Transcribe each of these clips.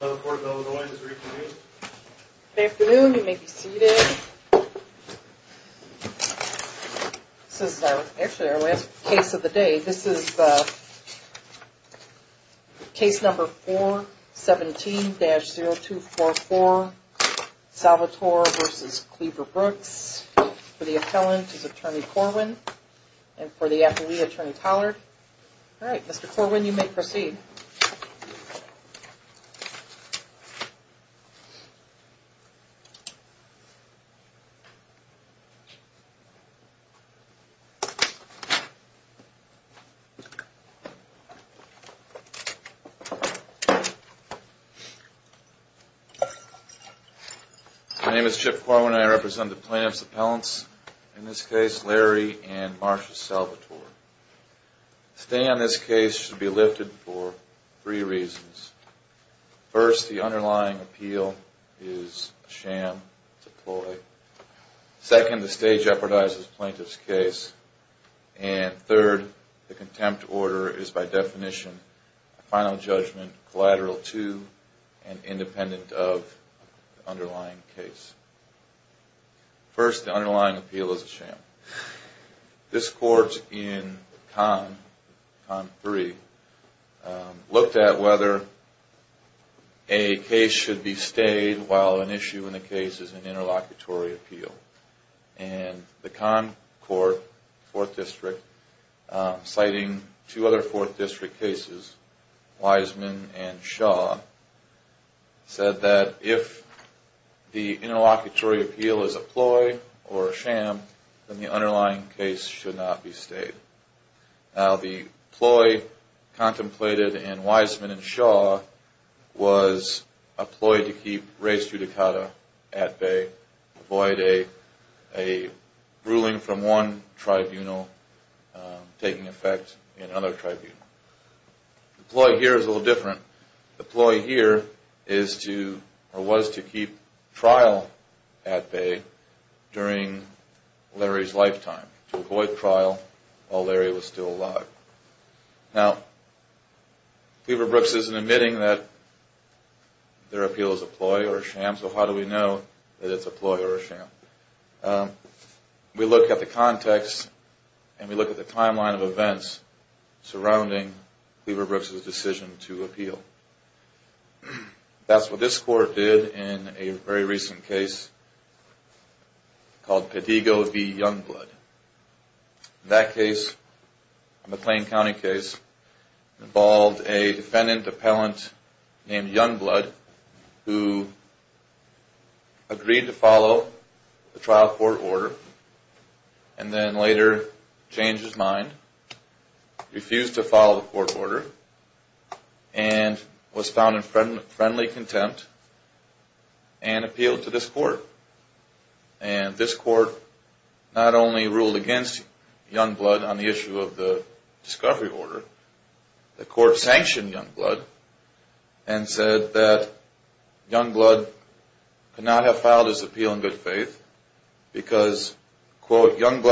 This is actually our last case of the day. This is case number 417-0244, Salvatore v. Cleaver-Brooks. For the appellant is Attorney Corwin and for the athlete Attorney Tollard. Alright Mr. Corwin you may proceed. My name is Chip Corwin and I represent the plaintiff's appellants, in this case Larry and Marsha Salvatore. The stay on this case should be lifted for three reasons. First, the underlying appeal is a sham, it's a ploy. Second, the stay jeopardizes the plaintiff's case. And third, the contempt order is by definition a final judgment collateral to and independent of the underlying case. First, the underlying appeal is a sham. This court in Con 3 looked at whether a case should be stayed while an issue in the case is an interlocutory appeal. And the Con Court, 4th District, citing two other 4th District cases, Wiseman and Shaw, said that if the interlocutory appeal is a ploy or a sham, then the underlying case should not be stayed. Now the ploy contemplated in Wiseman and Shaw was a ploy to keep race judicata at bay, avoid a ruling from one tribunal taking effect in another tribunal. The ploy here is a little different. The ploy here was to keep trial at bay during Larry's lifetime, to avoid trial while Larry was still alive. Now, Cleaver Brooks isn't admitting that their appeal is a ploy or a sham, so how do we know that it's a ploy or a sham? We look at the context and we look at the timeline of events surrounding Cleaver Brooks' decision to appeal. That's what this court did in a very recent case called Pedigo v. Youngblood. That case, a McLean County case, involved a defendant appellant named Youngblood who agreed to follow the trial court order and then later changed his mind, refused to follow the court order, and was found in friendly contempt and appealed to this court. And this court not only ruled against Youngblood on the issue of the discovery order, the court sanctioned Youngblood and said that Youngblood could not have filed his appeal in good faith because, quote, And if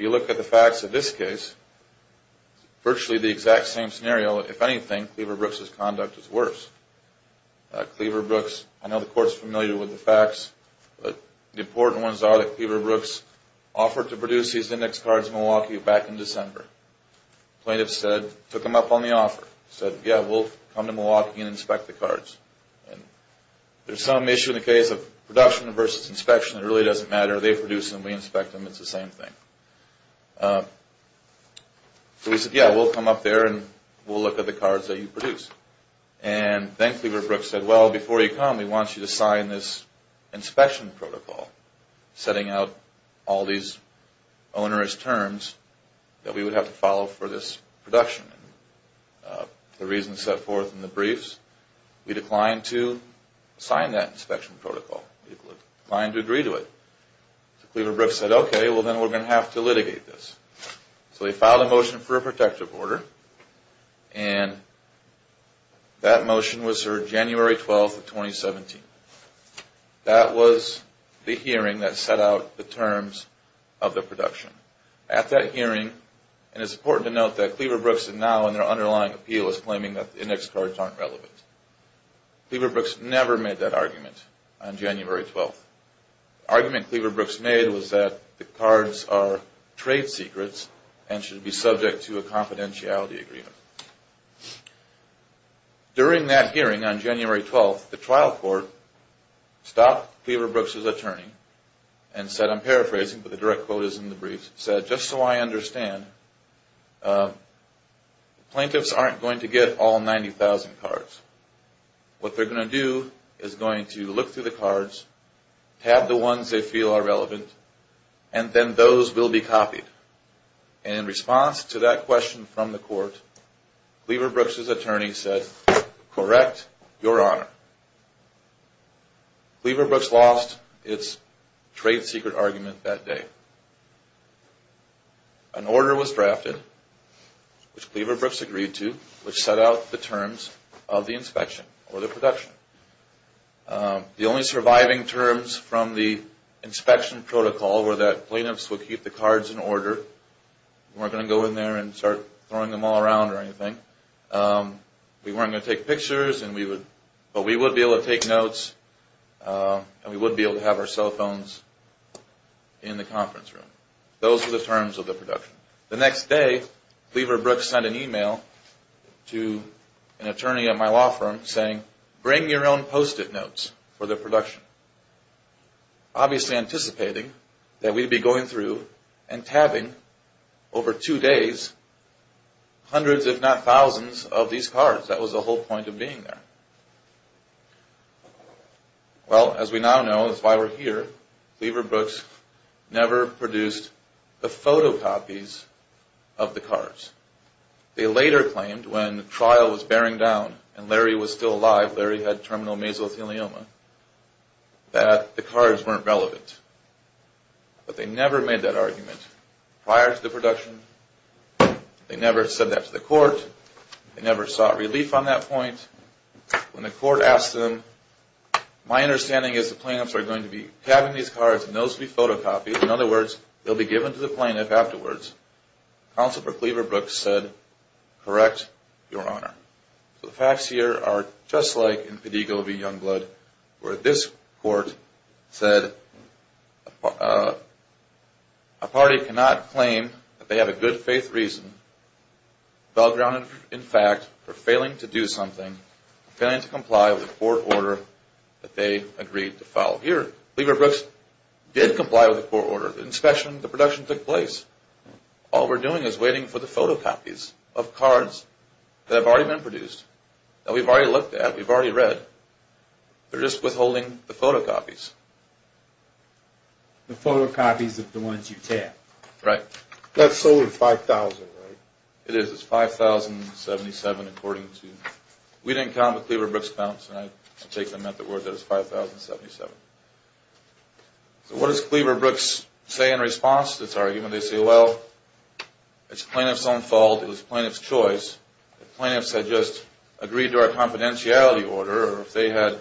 you look at the facts of this case, it's virtually the exact same scenario. If anything, Cleaver Brooks' conduct is worse. I know the court is familiar with the facts, but the important ones are that Cleaver Brooks offered to produce these index cards in Milwaukee back in December. Plaintiff said, took them up on the offer, said, yeah, we'll come to Milwaukee and inspect the cards. And there's some issue in the case of production versus inspection that really doesn't matter. They produce them, we inspect them, it's the same thing. So we said, yeah, we'll come up there and we'll look at the cards that you produce. And then Cleaver Brooks said, well, before you come, we want you to sign this inspection protocol, setting out all these onerous terms that we would have to follow for this production. And the reason set forth in the briefs, we declined to sign that inspection protocol. We declined to agree to it. So Cleaver Brooks said, okay, well, then we're going to have to litigate this. So they filed a motion for a protective order, and that motion was served January 12th of 2017. That was the hearing that set out the terms of the production. At that hearing, and it's important to note that Cleaver Brooks is now in their underlying appeal as claiming that the index cards aren't relevant. Cleaver Brooks never made that argument on January 12th. The argument Cleaver Brooks made was that the cards are trade secrets and should be subject to a confidentiality agreement. During that hearing on January 12th, the trial court stopped Cleaver Brooks' attorney and said, I'm paraphrasing, but the direct quote is in the briefs, said, just so I understand, plaintiffs aren't going to get all 90,000 cards. What they're going to do is going to look through the cards, have the ones they feel are relevant, and then those will be copied. And in response to that question from the court, Cleaver Brooks' attorney said, correct, your honor. Cleaver Brooks lost its trade secret argument that day. An order was drafted, which Cleaver Brooks agreed to, which set out the terms of the inspection or the production. The only surviving terms from the inspection protocol were that plaintiffs would keep the cards in order, weren't going to go in there and start throwing them all around or anything. We weren't going to take pictures, but we would be able to take notes, and we would be able to have our cell phones in the conference room. Those were the terms of the production. The next day, Cleaver Brooks sent an email to an attorney at my law firm saying, bring your own post-it notes for the production. Obviously anticipating that we'd be going through and tabbing over two days hundreds, if not thousands, of these cards. That was the whole point of being there. Well, as we now know, that's why we're here, Cleaver Brooks never produced the photocopies of the cards. They later claimed when the trial was bearing down and Larry was still alive, Larry had terminal mesothelioma, that the cards weren't relevant. But they never made that argument prior to the production. They never said that to the court. They never sought relief on that point. When the court asked them, my understanding is the plaintiffs are going to be tabbing these cards and those will be photocopied. In other words, they'll be given to the plaintiff afterwards. Counsel for Cleaver Brooks said, correct, Your Honor. The facts here are just like in Padigal v. Youngblood, where this court said, a party cannot claim that they have a good faith reason, well-grounded in fact, for failing to do something, failing to comply with the court order that they agreed to follow. Well, here, Cleaver Brooks did comply with the court order. The inspection, the production took place. All we're doing is waiting for the photocopies of cards that have already been produced, that we've already looked at, we've already read. They're just withholding the photocopies. The photocopies of the ones you tabbed. Right. That's sold at $5,000, right? It is. It's $5,077, according to. We didn't count with Cleaver Brooks' balance, and I take them at the word that it's $5,077. So what does Cleaver Brooks say in response to this argument? They say, well, it's the plaintiff's own fault. It was the plaintiff's choice. If the plaintiffs had just agreed to our confidentiality order, or if they had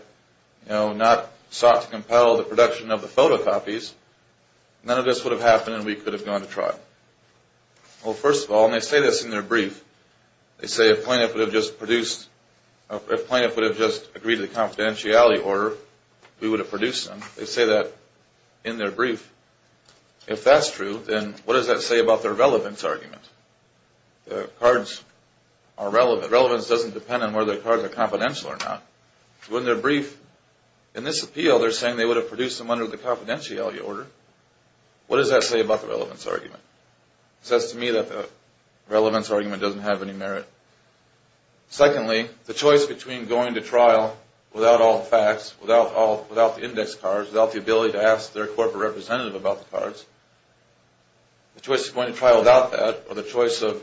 not sought to compel the production of the photocopies, none of this would have happened and we could have gone to trial. Well, first of all, and they say this in their brief, they say if plaintiff would have just produced, if plaintiff would have just agreed to the confidentiality order, we would have produced them. They say that in their brief. If that's true, then what does that say about their relevance argument? The cards are relevant. Relevance doesn't depend on whether the cards are confidential or not. So in their brief, in this appeal, they're saying they would have produced them under the confidentiality order. What does that say about the relevance argument? It says to me that the relevance argument doesn't have any merit. Secondly, the choice between going to trial without all the facts, without the index cards, without the ability to ask their corporate representative about the cards, the choice of going to trial without that, or the choice of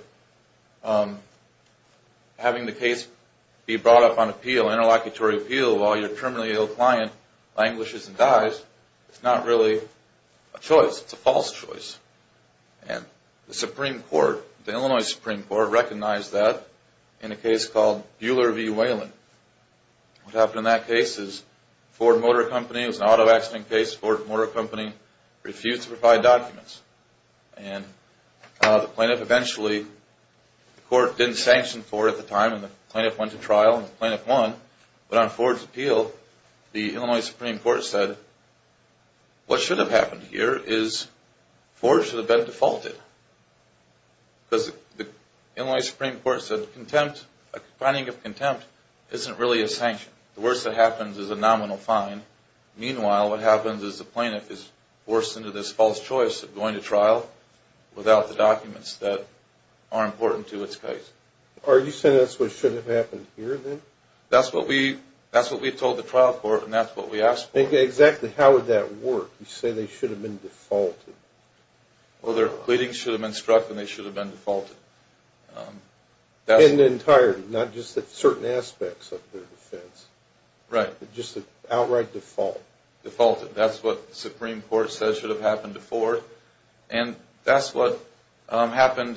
having the case be brought up on appeal, interlocutory appeal, while your terminally ill client languishes and dies, is not really a choice. It's a false choice. And the Supreme Court, the Illinois Supreme Court, recognized that in a case called Bueller v. Whalen. What happened in that case is Ford Motor Company, it was an auto accident case, Ford Motor Company refused to provide documents. And the plaintiff eventually, the court didn't sanction Ford at the time, and the plaintiff went to trial, and the plaintiff won. But on Ford's appeal, the Illinois Supreme Court said, what should have happened here is Ford should have been defaulted. Because the Illinois Supreme Court said a finding of contempt isn't really a sanction. The worst that happens is a nominal fine. Meanwhile, what happens is the plaintiff is forced into this false choice of going to trial without the documents that are important to its case. Are you saying that's what should have happened here, then? That's what we told the trial court, and that's what we asked for. Exactly how would that work? You say they should have been defaulted. Well, their pleadings should have been struck, and they should have been defaulted. In entirety, not just certain aspects of their defense. Right. Just an outright default. Defaulted. That's what the Supreme Court says should have happened to Ford. And that's what happened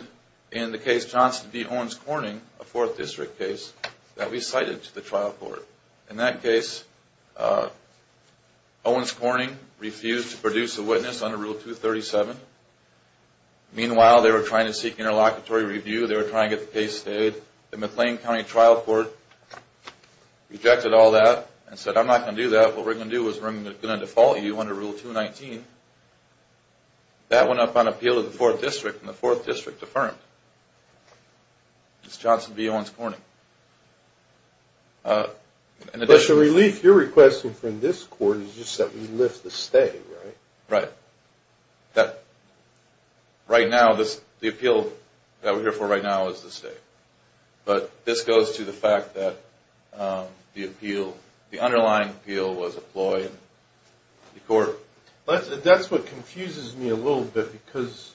in the case Johnson v. Owens Corning, a Fourth District case, that we cited to the trial court. In that case, Owens Corning refused to produce a witness under Rule 237. Meanwhile, they were trying to seek interlocutory review. They were trying to get the case stayed. The McLean County Trial Court rejected all that and said, I'm not going to do that. What we're going to do is we're going to default you under Rule 219. That went up on appeal of the Fourth District, and the Fourth District affirmed. It's Johnson v. Owens Corning. But the relief you're requesting from this court is just that we lift the stay, right? Right. Right now, the appeal that we're here for right now is the stay. But this goes to the fact that the appeal, the underlying appeal was a ploy in the court. That's what confuses me a little bit, because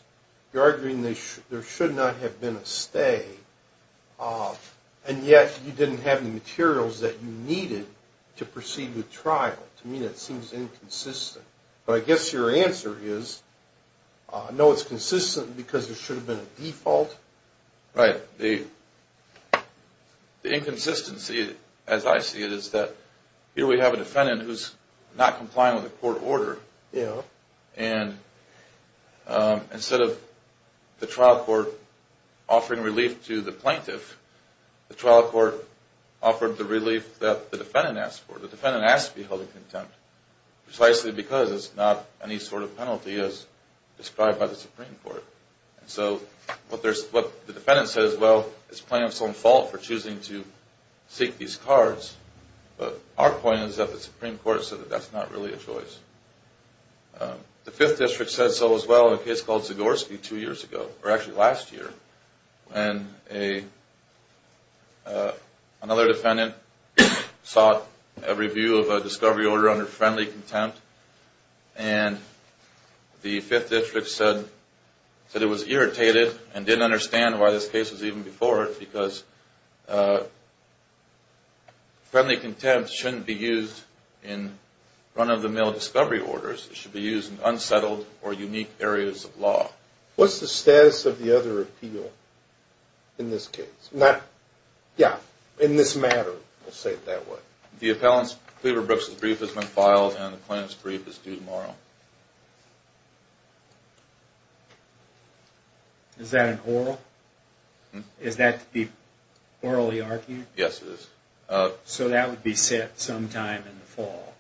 you're arguing there should not have been a stay, and yet you didn't have the materials that you needed to proceed with trial. To me, that seems inconsistent. But I guess your answer is, no, it's consistent because there should have been a default. Right. The inconsistency, as I see it, is that here we have a defendant who's not complying with the court order. Yeah. And instead of the trial court offering relief to the plaintiff, the trial court offered the relief that the defendant asked for. The defendant asked to be held in contempt, precisely because it's not any sort of penalty as described by the Supreme Court. And so what the defendant says, well, it's the plaintiff's own fault for choosing to seek these cards. But our point is that the Supreme Court said that that's not really a choice. The Fifth District said so as well in a case called Zagorski two years ago, or actually last year, when another defendant sought a review of a discovery order under friendly contempt. And the Fifth District said it was irritated and didn't understand why this case was even before it, because friendly contempt shouldn't be used in run-of-the-mill discovery orders. It should be used in unsettled or unique areas of law. What's the status of the other appeal in this case? Yeah, in this matter, let's say it that way. The appellant Cleaver Brooks' brief has been filed and the plaintiff's brief is due tomorrow. Is that an oral? Is that to be orally argued? Yes, it is. So that would be set sometime in the fall?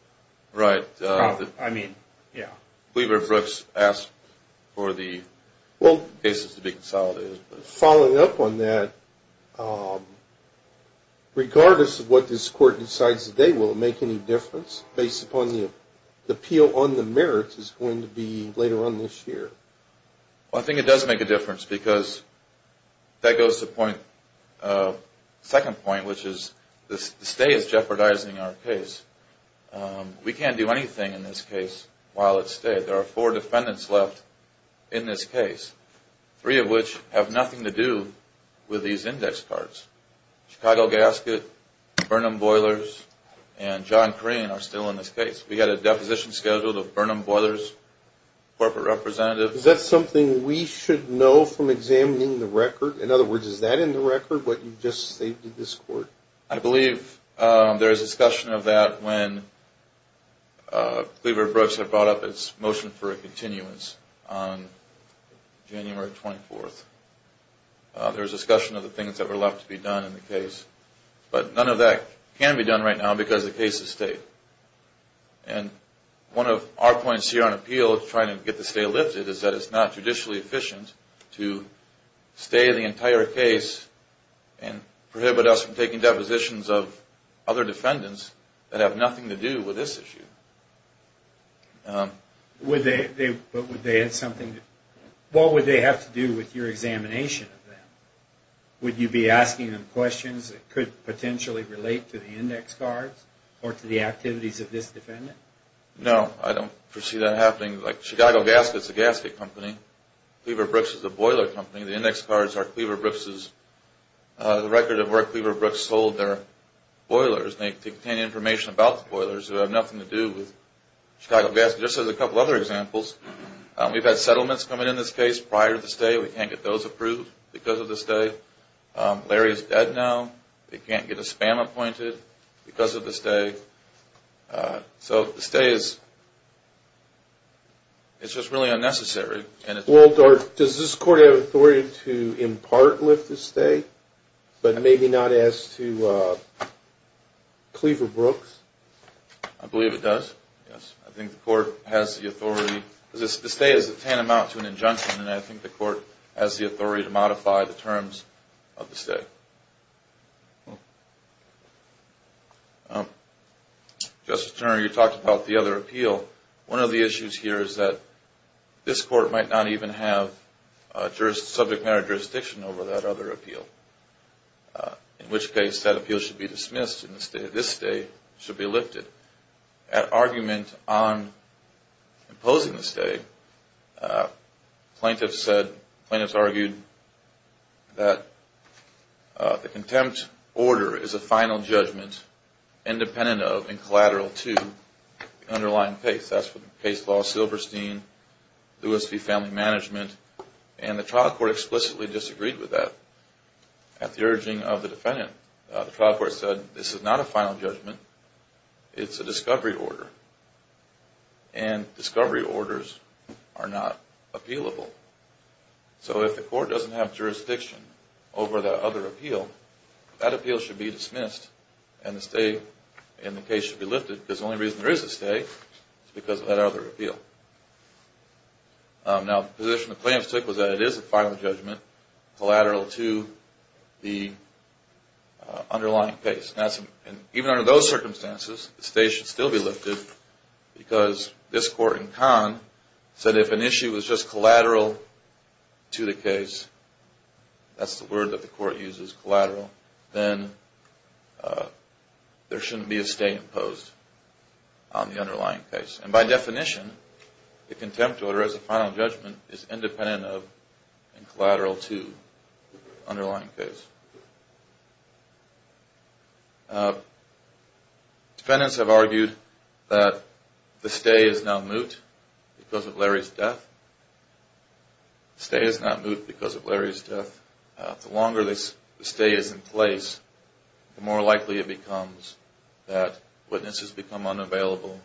Right. I mean, yeah. Cleaver Brooks asked for the cases to be consolidated. Following up on that, regardless of what this court decides today, will it make any difference based upon the appeal on the merits is going to be later on this year? I think it does make a difference, because that goes to the second point, which is the stay is jeopardizing our case. We can't do anything in this case while it's stayed. There are four defendants left in this case, three of which have nothing to do with these index cards. Chicago Gasket, Burnham Boilers, and John Crean are still in this case. We had a deposition scheduled of Burnham Boilers, corporate representative. Is that something we should know from examining the record? In other words, is that in the record, what you just stated to this court? I believe there is discussion of that when Cleaver Brooks had brought up its motion for a continuance on January 24th. There was discussion of the things that were left to be done in the case. But none of that can be done right now because the case is stayed. And one of our points here on appeal, trying to get the stay lifted, is that it's not judicially efficient to stay the entire case and prohibit us from taking depositions of other defendants that have nothing to do with this issue. What would they have to do with your examination of them? Would you be asking them questions that could potentially relate to the index cards or to the activities of this defendant? No, I don't foresee that happening. Like, Chicago Gaskets is a gasket company. Cleaver Brooks is a boiler company. The index cards are the record of where Cleaver Brooks sold their boilers. They contain information about the boilers that have nothing to do with Chicago Gaskets. This is a couple of other examples. We've had settlements coming in this case prior to the stay. We can't get those approved because of the stay. Larry is dead now. They can't get a spam appointed because of the stay. So the stay is just really unnecessary. Does this court have authority to impart lift the stay, but maybe not as to Cleaver Brooks? I believe it does, yes. I think the court has the authority. The stay is a tantamount to an injunction, and I think the court has the authority to modify the terms of the stay. Justice Turner, you talked about the other appeal. One of the issues here is that this court might not even have subject matter jurisdiction over that other appeal, in which case that appeal should be dismissed and this stay should be lifted. At argument on imposing the stay, plaintiffs argued that the contempt order is a final judgment independent of and collateral to the underlying case. That's what the case law, Silverstein, Lewis v. Family Management, and the trial court explicitly disagreed with that at the urging of the defendant. The trial court said this is not a final judgment. It's a discovery order, and discovery orders are not appealable. So if the court doesn't have jurisdiction over that other appeal, that appeal should be dismissed and the stay in the case should be lifted because the only reason there is a stay is because of that other appeal. Now, the position the plaintiffs took was that it is a final judgment, collateral to the underlying case. Even under those circumstances, the stay should still be lifted because this court in Kahn said if an issue was just collateral to the case, that's the word that the court uses, collateral, then there shouldn't be a stay imposed on the underlying case. And by definition, the contempt order as a final judgment is independent of and collateral to the underlying case. Defendants have argued that the stay is now moot because of Larry's death. The stay is not moot because of Larry's death. The longer the stay is in place, the more likely it becomes that witnesses become unavailable.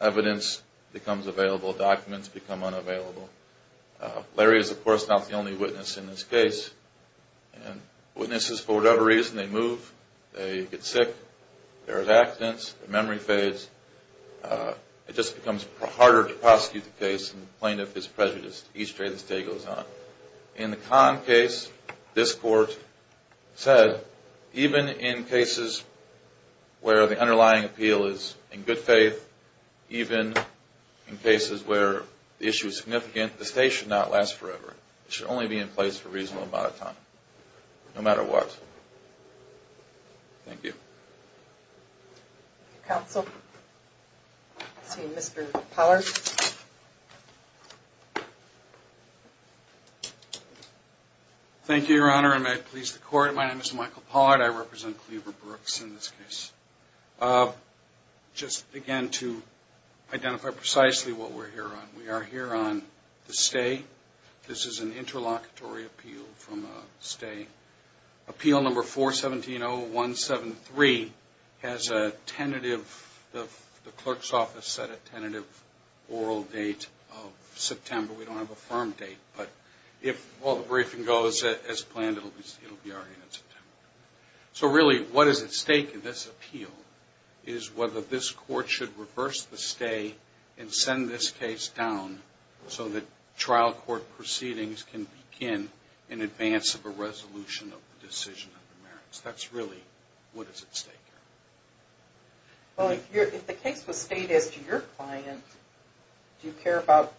Evidence becomes available. Documents become unavailable. Larry is, of course, not the only witness in this case. Witnesses, for whatever reason, they move. They get sick. There are accidents. The memory fades. It just becomes harder to prosecute the case and plaintiff is prejudiced. Each day the stay goes on. In the Kahn case, this court said even in cases where the underlying appeal is in good faith even in cases where the issue is significant, the stay should not last forever. It should only be in place for a reasonable amount of time, no matter what. Thank you. Counsel. Let's see, Mr. Pollard. Thank you, Your Honor, and may it please the Court. My name is Michael Pollard. I represent Cleaver Brooks in this case. Just, again, to identify precisely what we're here on. We are here on the stay. This is an interlocutory appeal from a stay. Appeal number 4-170-173 has a tentative, the clerk's office set a tentative oral date of September. We don't have a firm date, but if all the briefing goes as planned, it will be already in September. So, really, what is at stake in this appeal is whether this court should reverse the stay and send this case down so that trial court proceedings can begin in advance of a resolution of the decision of the merits. That's really what is at stake here. Well, if the case was stayed as to your client, do you care about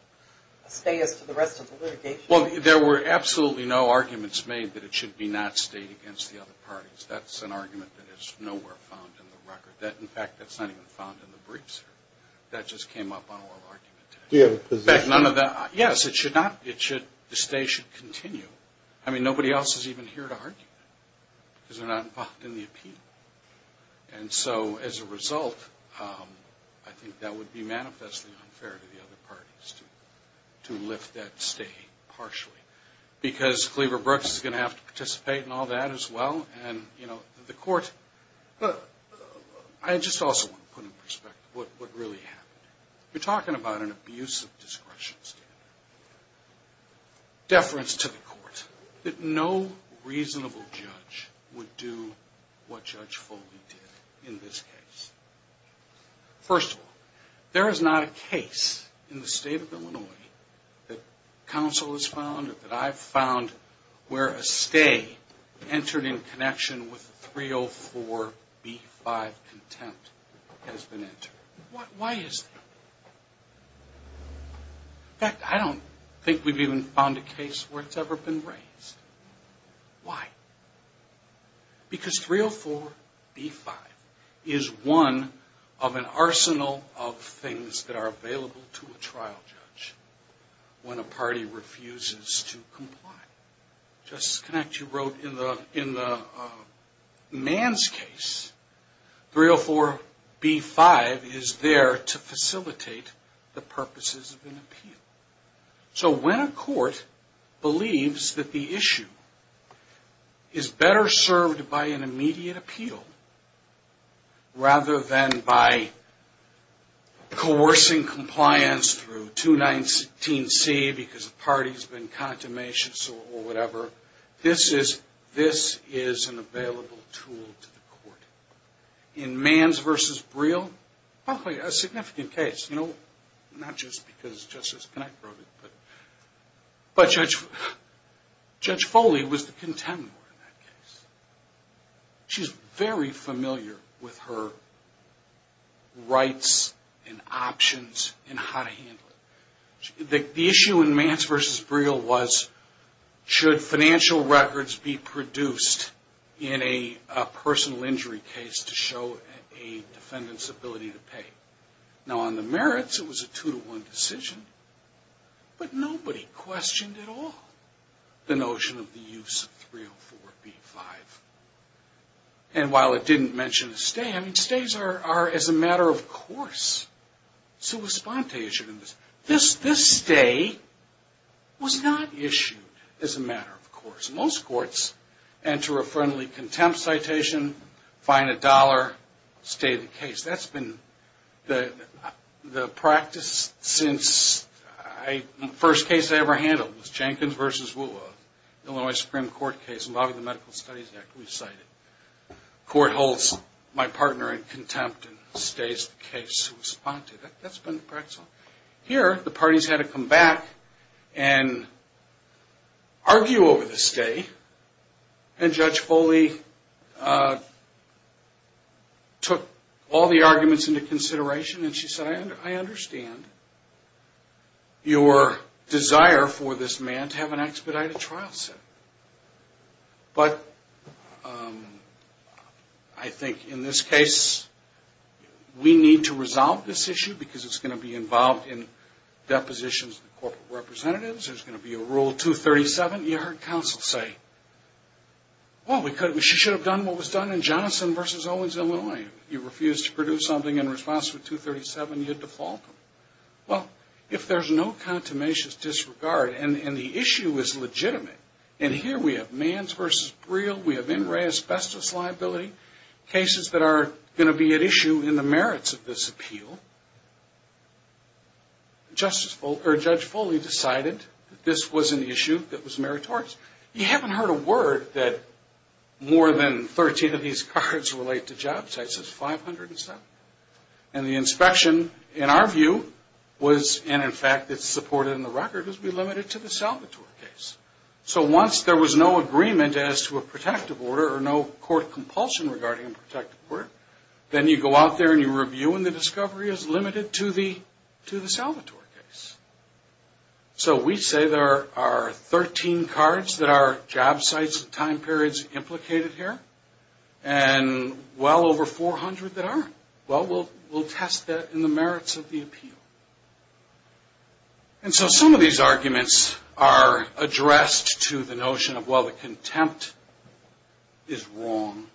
a stay as to the rest of the litigation? Well, there were absolutely no arguments made that it should be not stayed against the other parties. That's an argument that is nowhere found in the record. In fact, that's not even found in the briefs. That just came up on oral argument today. Do you have a position? Yes, it should not. The stay should continue. I mean, nobody else is even here to argue because they're not involved in the appeal. And so, as a result, I think that would be manifestly unfair to the other parties to lift that stay partially because Cleaver Brooks is going to have to participate in all that as well. And, you know, the court... I just also want to put in perspective what really happened. You're talking about an abuse of discretion standard. Deference to the court that no reasonable judge would do what Judge Foley did in this case. First of all, there is not a case in the state of Illinois that counsel has found or that I've found where a stay entered in connection with 304B5 contempt has been entered. Why is that? In fact, I don't think we've even found a case where it's ever been raised. Why? Because 304B5 is one of an arsenal of things that are available to a trial judge when a party refuses to comply. Justice Connacht, you wrote in the Mann's case, 304B5 is there to facilitate the purposes of an appeal. So when a court believes that the issue is better served by an immediate appeal rather than by coercing compliance through 219C because the party's been contumacious or whatever, this is an available tool to the court. In Mann's v. Briel, probably a significant case, you know, not just because Justice Connacht wrote it, but Judge Foley was the contender in that case. She's very familiar with her rights and options and how to handle it. The issue in Mann's v. Briel was, should financial records be produced in a personal injury case to show a defendant's ability to pay? Now, on the merits, it was a two-to-one decision, but nobody questioned at all the notion of the use of 304B5. And while it didn't mention a stay, I mean, stays are as a matter of course. This stay was not issued as a matter of course. Most courts enter a friendly contempt citation, fine a dollar, stay the case. That's been the practice since the first case I ever handled was Jenkins v. Woolworth, Illinois Supreme Court case involving the Medical Studies Act we cited. Court holds my partner in contempt and stays the case to respond to. That's been the practice. Here, the parties had to come back and argue over the stay, and Judge Foley took all the arguments into consideration, and she said, I understand your desire for this man to have an expedited trial set. But I think in this case, we need to resolve this issue, because it's going to be involved in depositions of corporate representatives. There's going to be a Rule 237. You heard counsel say, well, she should have done what was done in Johnson v. Owens, Illinois. You refused to produce something in response to 237. You defaulted. Well, if there's no contumacious disregard, and the issue is legitimate, and here we have Manns v. Breal, we have In Re Asbestos Liability, cases that are going to be at issue in the merits of this appeal, Judge Foley decided that this was an issue that was meritorious. You haven't heard a word that more than 13 of these cards relate to job sites. It's 500 and something. And the inspection, in our view, was, and in fact it's supported in the record, is we limited it to the Salvatore case. So once there was no agreement as to a protective order or no court compulsion regarding a protective order, then you go out there and you review, and the discovery is limited to the Salvatore case. So we say there are 13 cards that are job sites and time periods implicated here, and well over 400 that aren't. Well, we'll test that in the merits of the appeal. And so some of these arguments are addressed to the notion of, well, the contempt is wrong.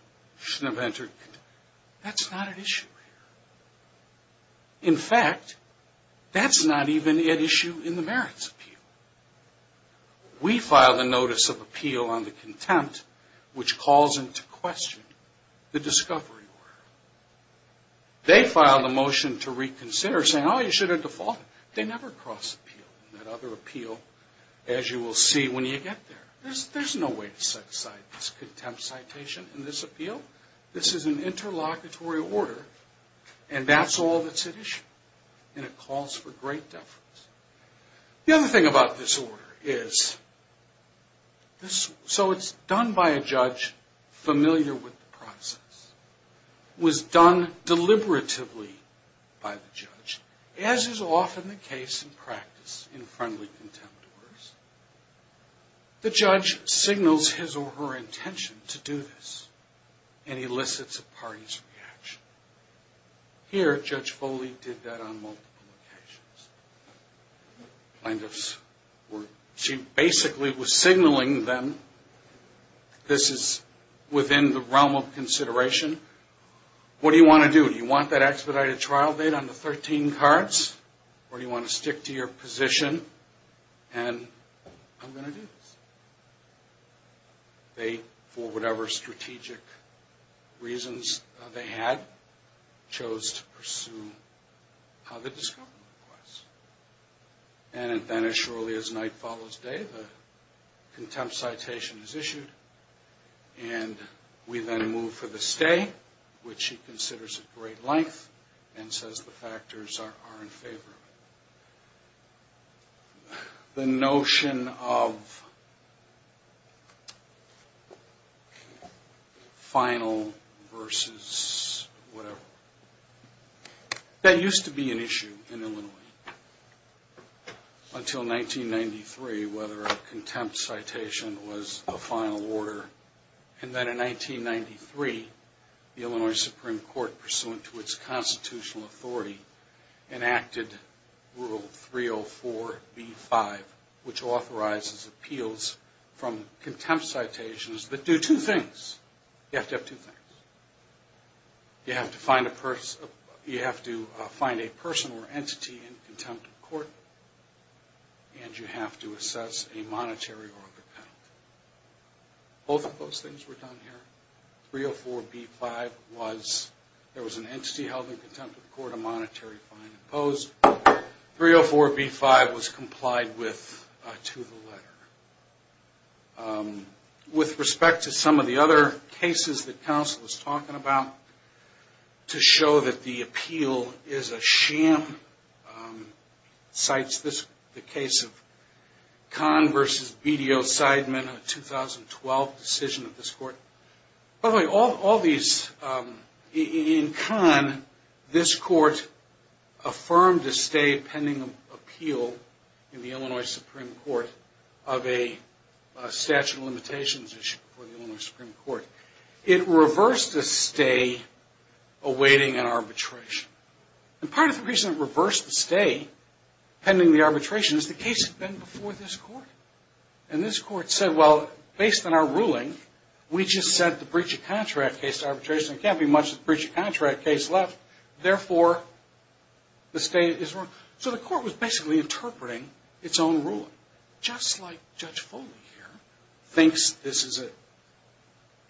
That's not at issue here. In fact, that's not even at issue in the merits appeal. We filed a notice of appeal on the contempt, which calls into question the discovery order. They filed a motion to reconsider saying, oh, you should have defaulted. They never cross-appealed in that other appeal, as you will see when you get there. There's no way to cite this contempt citation in this appeal. This is an interlocutory order, and that's all that's at issue. And it calls for great deference. The other thing about this order is, so it's done by a judge familiar with the process. It was done deliberatively by the judge, as is often the case in practice in friendly contempt orders. The judge signals his or her intention to do this and elicits a party's reaction. Here, Judge Foley did that on multiple occasions. Plaintiffs were, she basically was signaling them this is within the realm of consideration. What do you want to do? Do you want that expedited trial date on the 13 cards, or do you want to stick to your position and I'm going to do this? They, for whatever strategic reasons they had, chose to pursue the discovery request. And then as shortly as night follows day, the contempt citation is issued, and we then move for the stay, which she considers at great length and says the factors are in favor of it. The notion of final versus whatever. That used to be an issue in Illinois until 1993, whether a contempt citation was a final order. And then in 1993, the Illinois Supreme Court, pursuant to its constitutional authority, enacted Rule 304b-5, which authorizes appeals from contempt citations that do two things. You have to have two things. You have to find a person or entity in contempt of court, and you have to assess a monetary or other penalty. Both of those things were done here. 304b-5 was, there was an entity held in contempt of court, a monetary fine imposed. 304b-5 was complied with to the letter. With respect to some of the other cases that counsel is talking about, to show that the appeal is a sham, cites the case of Kahn versus BDO-Sideman, a 2012 decision of this court. All these, in Kahn, this court affirmed a stay pending appeal in the Illinois Supreme Court of a statute of limitations issue for the Illinois Supreme Court. It reversed a stay awaiting an arbitration. And part of the reason it reversed the stay pending the arbitration is the case had been before this court. And this court said, well, based on our ruling, we just said the breach of contract case to arbitration. There can't be much of a breach of contract case left. Therefore, the stay is wrong. So the court was basically interpreting its own ruling. Just like Judge Foley here thinks this is an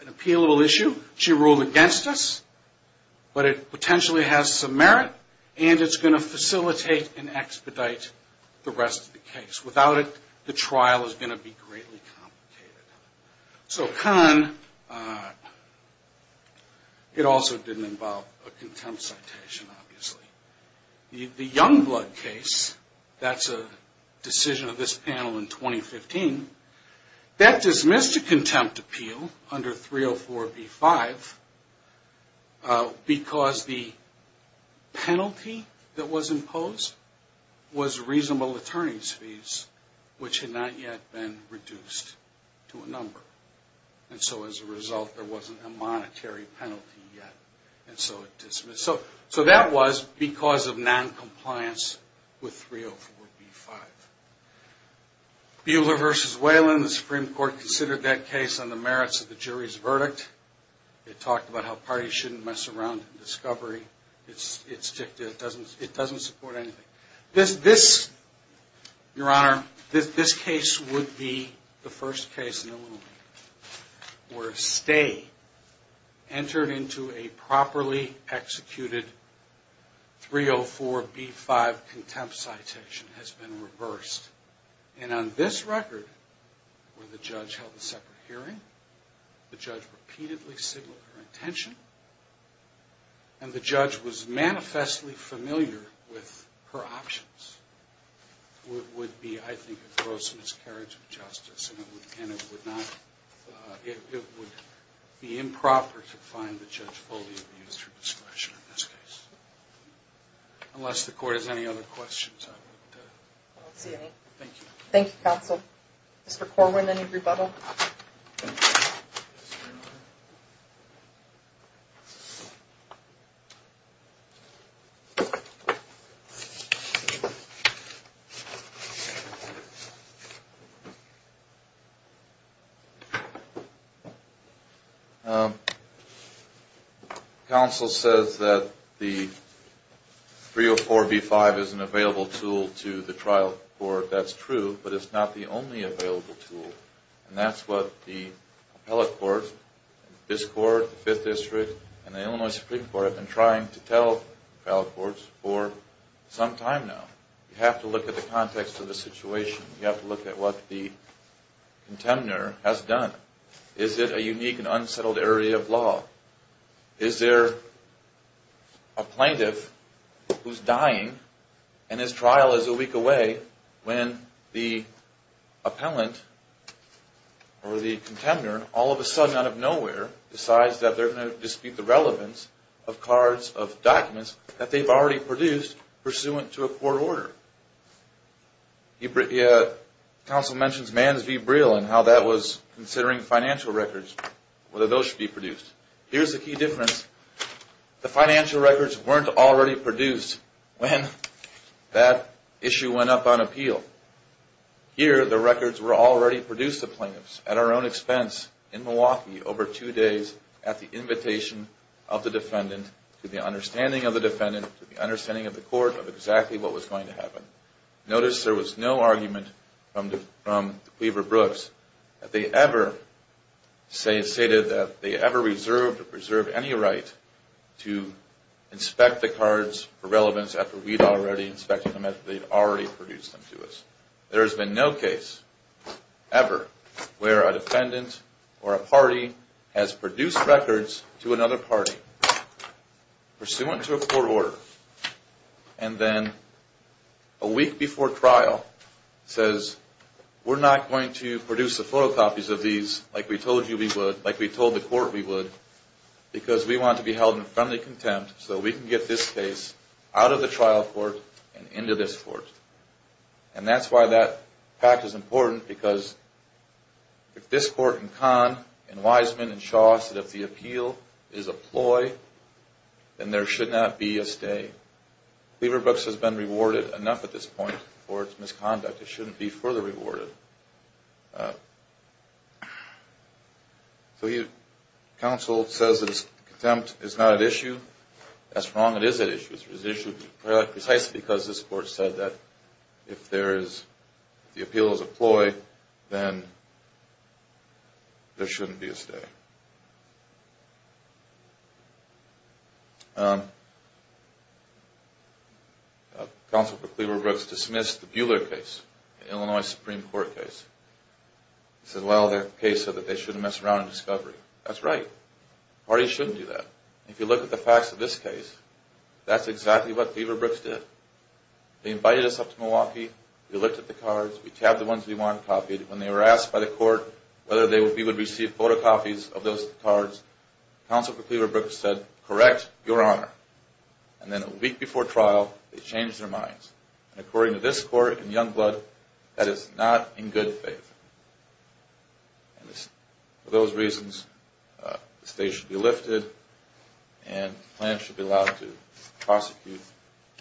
appealable issue, she ruled against us, but it potentially has some merit, and it's going to facilitate and expedite the rest of the case. Without it, the trial is going to be greatly complicated. So Kahn, it also didn't involve a contempt citation, obviously. The Youngblood case, that's a decision of this panel in 2015, that dismissed a contempt appeal under 304b-5 because the penalty that was imposed was reasonable attorney's fees, which had not yet been reduced to a number. And so as a result, there wasn't a monetary penalty yet, and so it dismissed. So that was because of noncompliance with 304b-5. Buehler v. Whelan, the Supreme Court considered that case on the merits of the jury's verdict. It talked about how parties shouldn't mess around in discovery. It doesn't support anything. This, Your Honor, this case would be the first case in a little while where a stay entered into a properly executed 304b-5 contempt citation has been reversed. And on this record, where the judge held a separate hearing, the judge repeatedly signaled her intention, and the judge was manifestly familiar with her options, would be, I think, a gross miscarriage of justice, and it would be improper to find the judge fully at the user's discretion in this case. Unless the court has any other questions. I don't see any. Thank you. Thank you, counsel. Mr. Corwin, any rebuttal? Yes, Your Honor. Counsel says that the 304b-5 is an available tool to the trial court. That's true, but it's not the only available tool, and that's what the appellate court, this court, the Fifth District, and the Illinois Supreme Court have been trying to tell trial courts for some time now. You have to look at the context of the situation. You have to look at what the contender has done. Is it a unique and unsettled area of law? Is there a plaintiff who's dying, and his trial is a week away, when the appellant or the contender all of a sudden, out of nowhere, decides that they're going to dispute the relevance of cards, of documents, that they've already produced pursuant to a court order? Counsel mentions Mans v. Briel and how that was considering financial records, whether those should be produced. Here's the key difference. The financial records weren't already produced when that issue went up on appeal. Here, the records were already produced to plaintiffs at our own expense in Milwaukee over two days at the invitation of the defendant, to the understanding of the defendant, to the understanding of the court of exactly what was going to happen. Notice there was no argument from the Cleaver-Brooks that they ever stated that they ever reserved or preserved any right to inspect the cards for relevance after we'd already inspected them, after they'd already produced them to us. There has been no case ever where a defendant or a party has produced records to another party pursuant to a court order, and then a week before trial says, we're not going to produce the photocopies of these like we told you we would, like we told the court we would, because we want to be held in friendly contempt so we can get this case out of the trial court and into this court. And that's why that fact is important, because if this court in Kahn and Wiseman and Shaw said if the appeal is a ploy, then there should not be a stay. Cleaver-Brooks has been rewarded enough at this point for its misconduct. It shouldn't be further rewarded. So counsel says its contempt is not at issue. That's wrong. It is at issue. It is at issue precisely because this court said that if the appeal is a ploy, then there shouldn't be a stay. Counsel for Cleaver-Brooks dismissed the Buehler case, the Illinois Supreme Court case. He said, well, their case said that they shouldn't mess around in discovery. That's right. Parties shouldn't do that. If you look at the facts of this case, that's exactly what Cleaver-Brooks did. They invited us up to Milwaukee. We looked at the cards. We tabbed the ones we wanted copied. When they were asked by the court whether we would receive photocopies, counsel for Cleaver-Brooks said, correct, your honor. And then a week before trial, they changed their minds. According to this court in Youngblood, that is not in good faith. For those reasons, the stay should be lifted and the plaintiff should be allowed to prosecute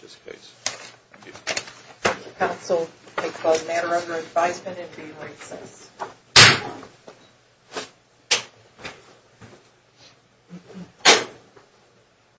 this case. Thank you. Thank you, counsel. I call the matter under advisement and be in recess.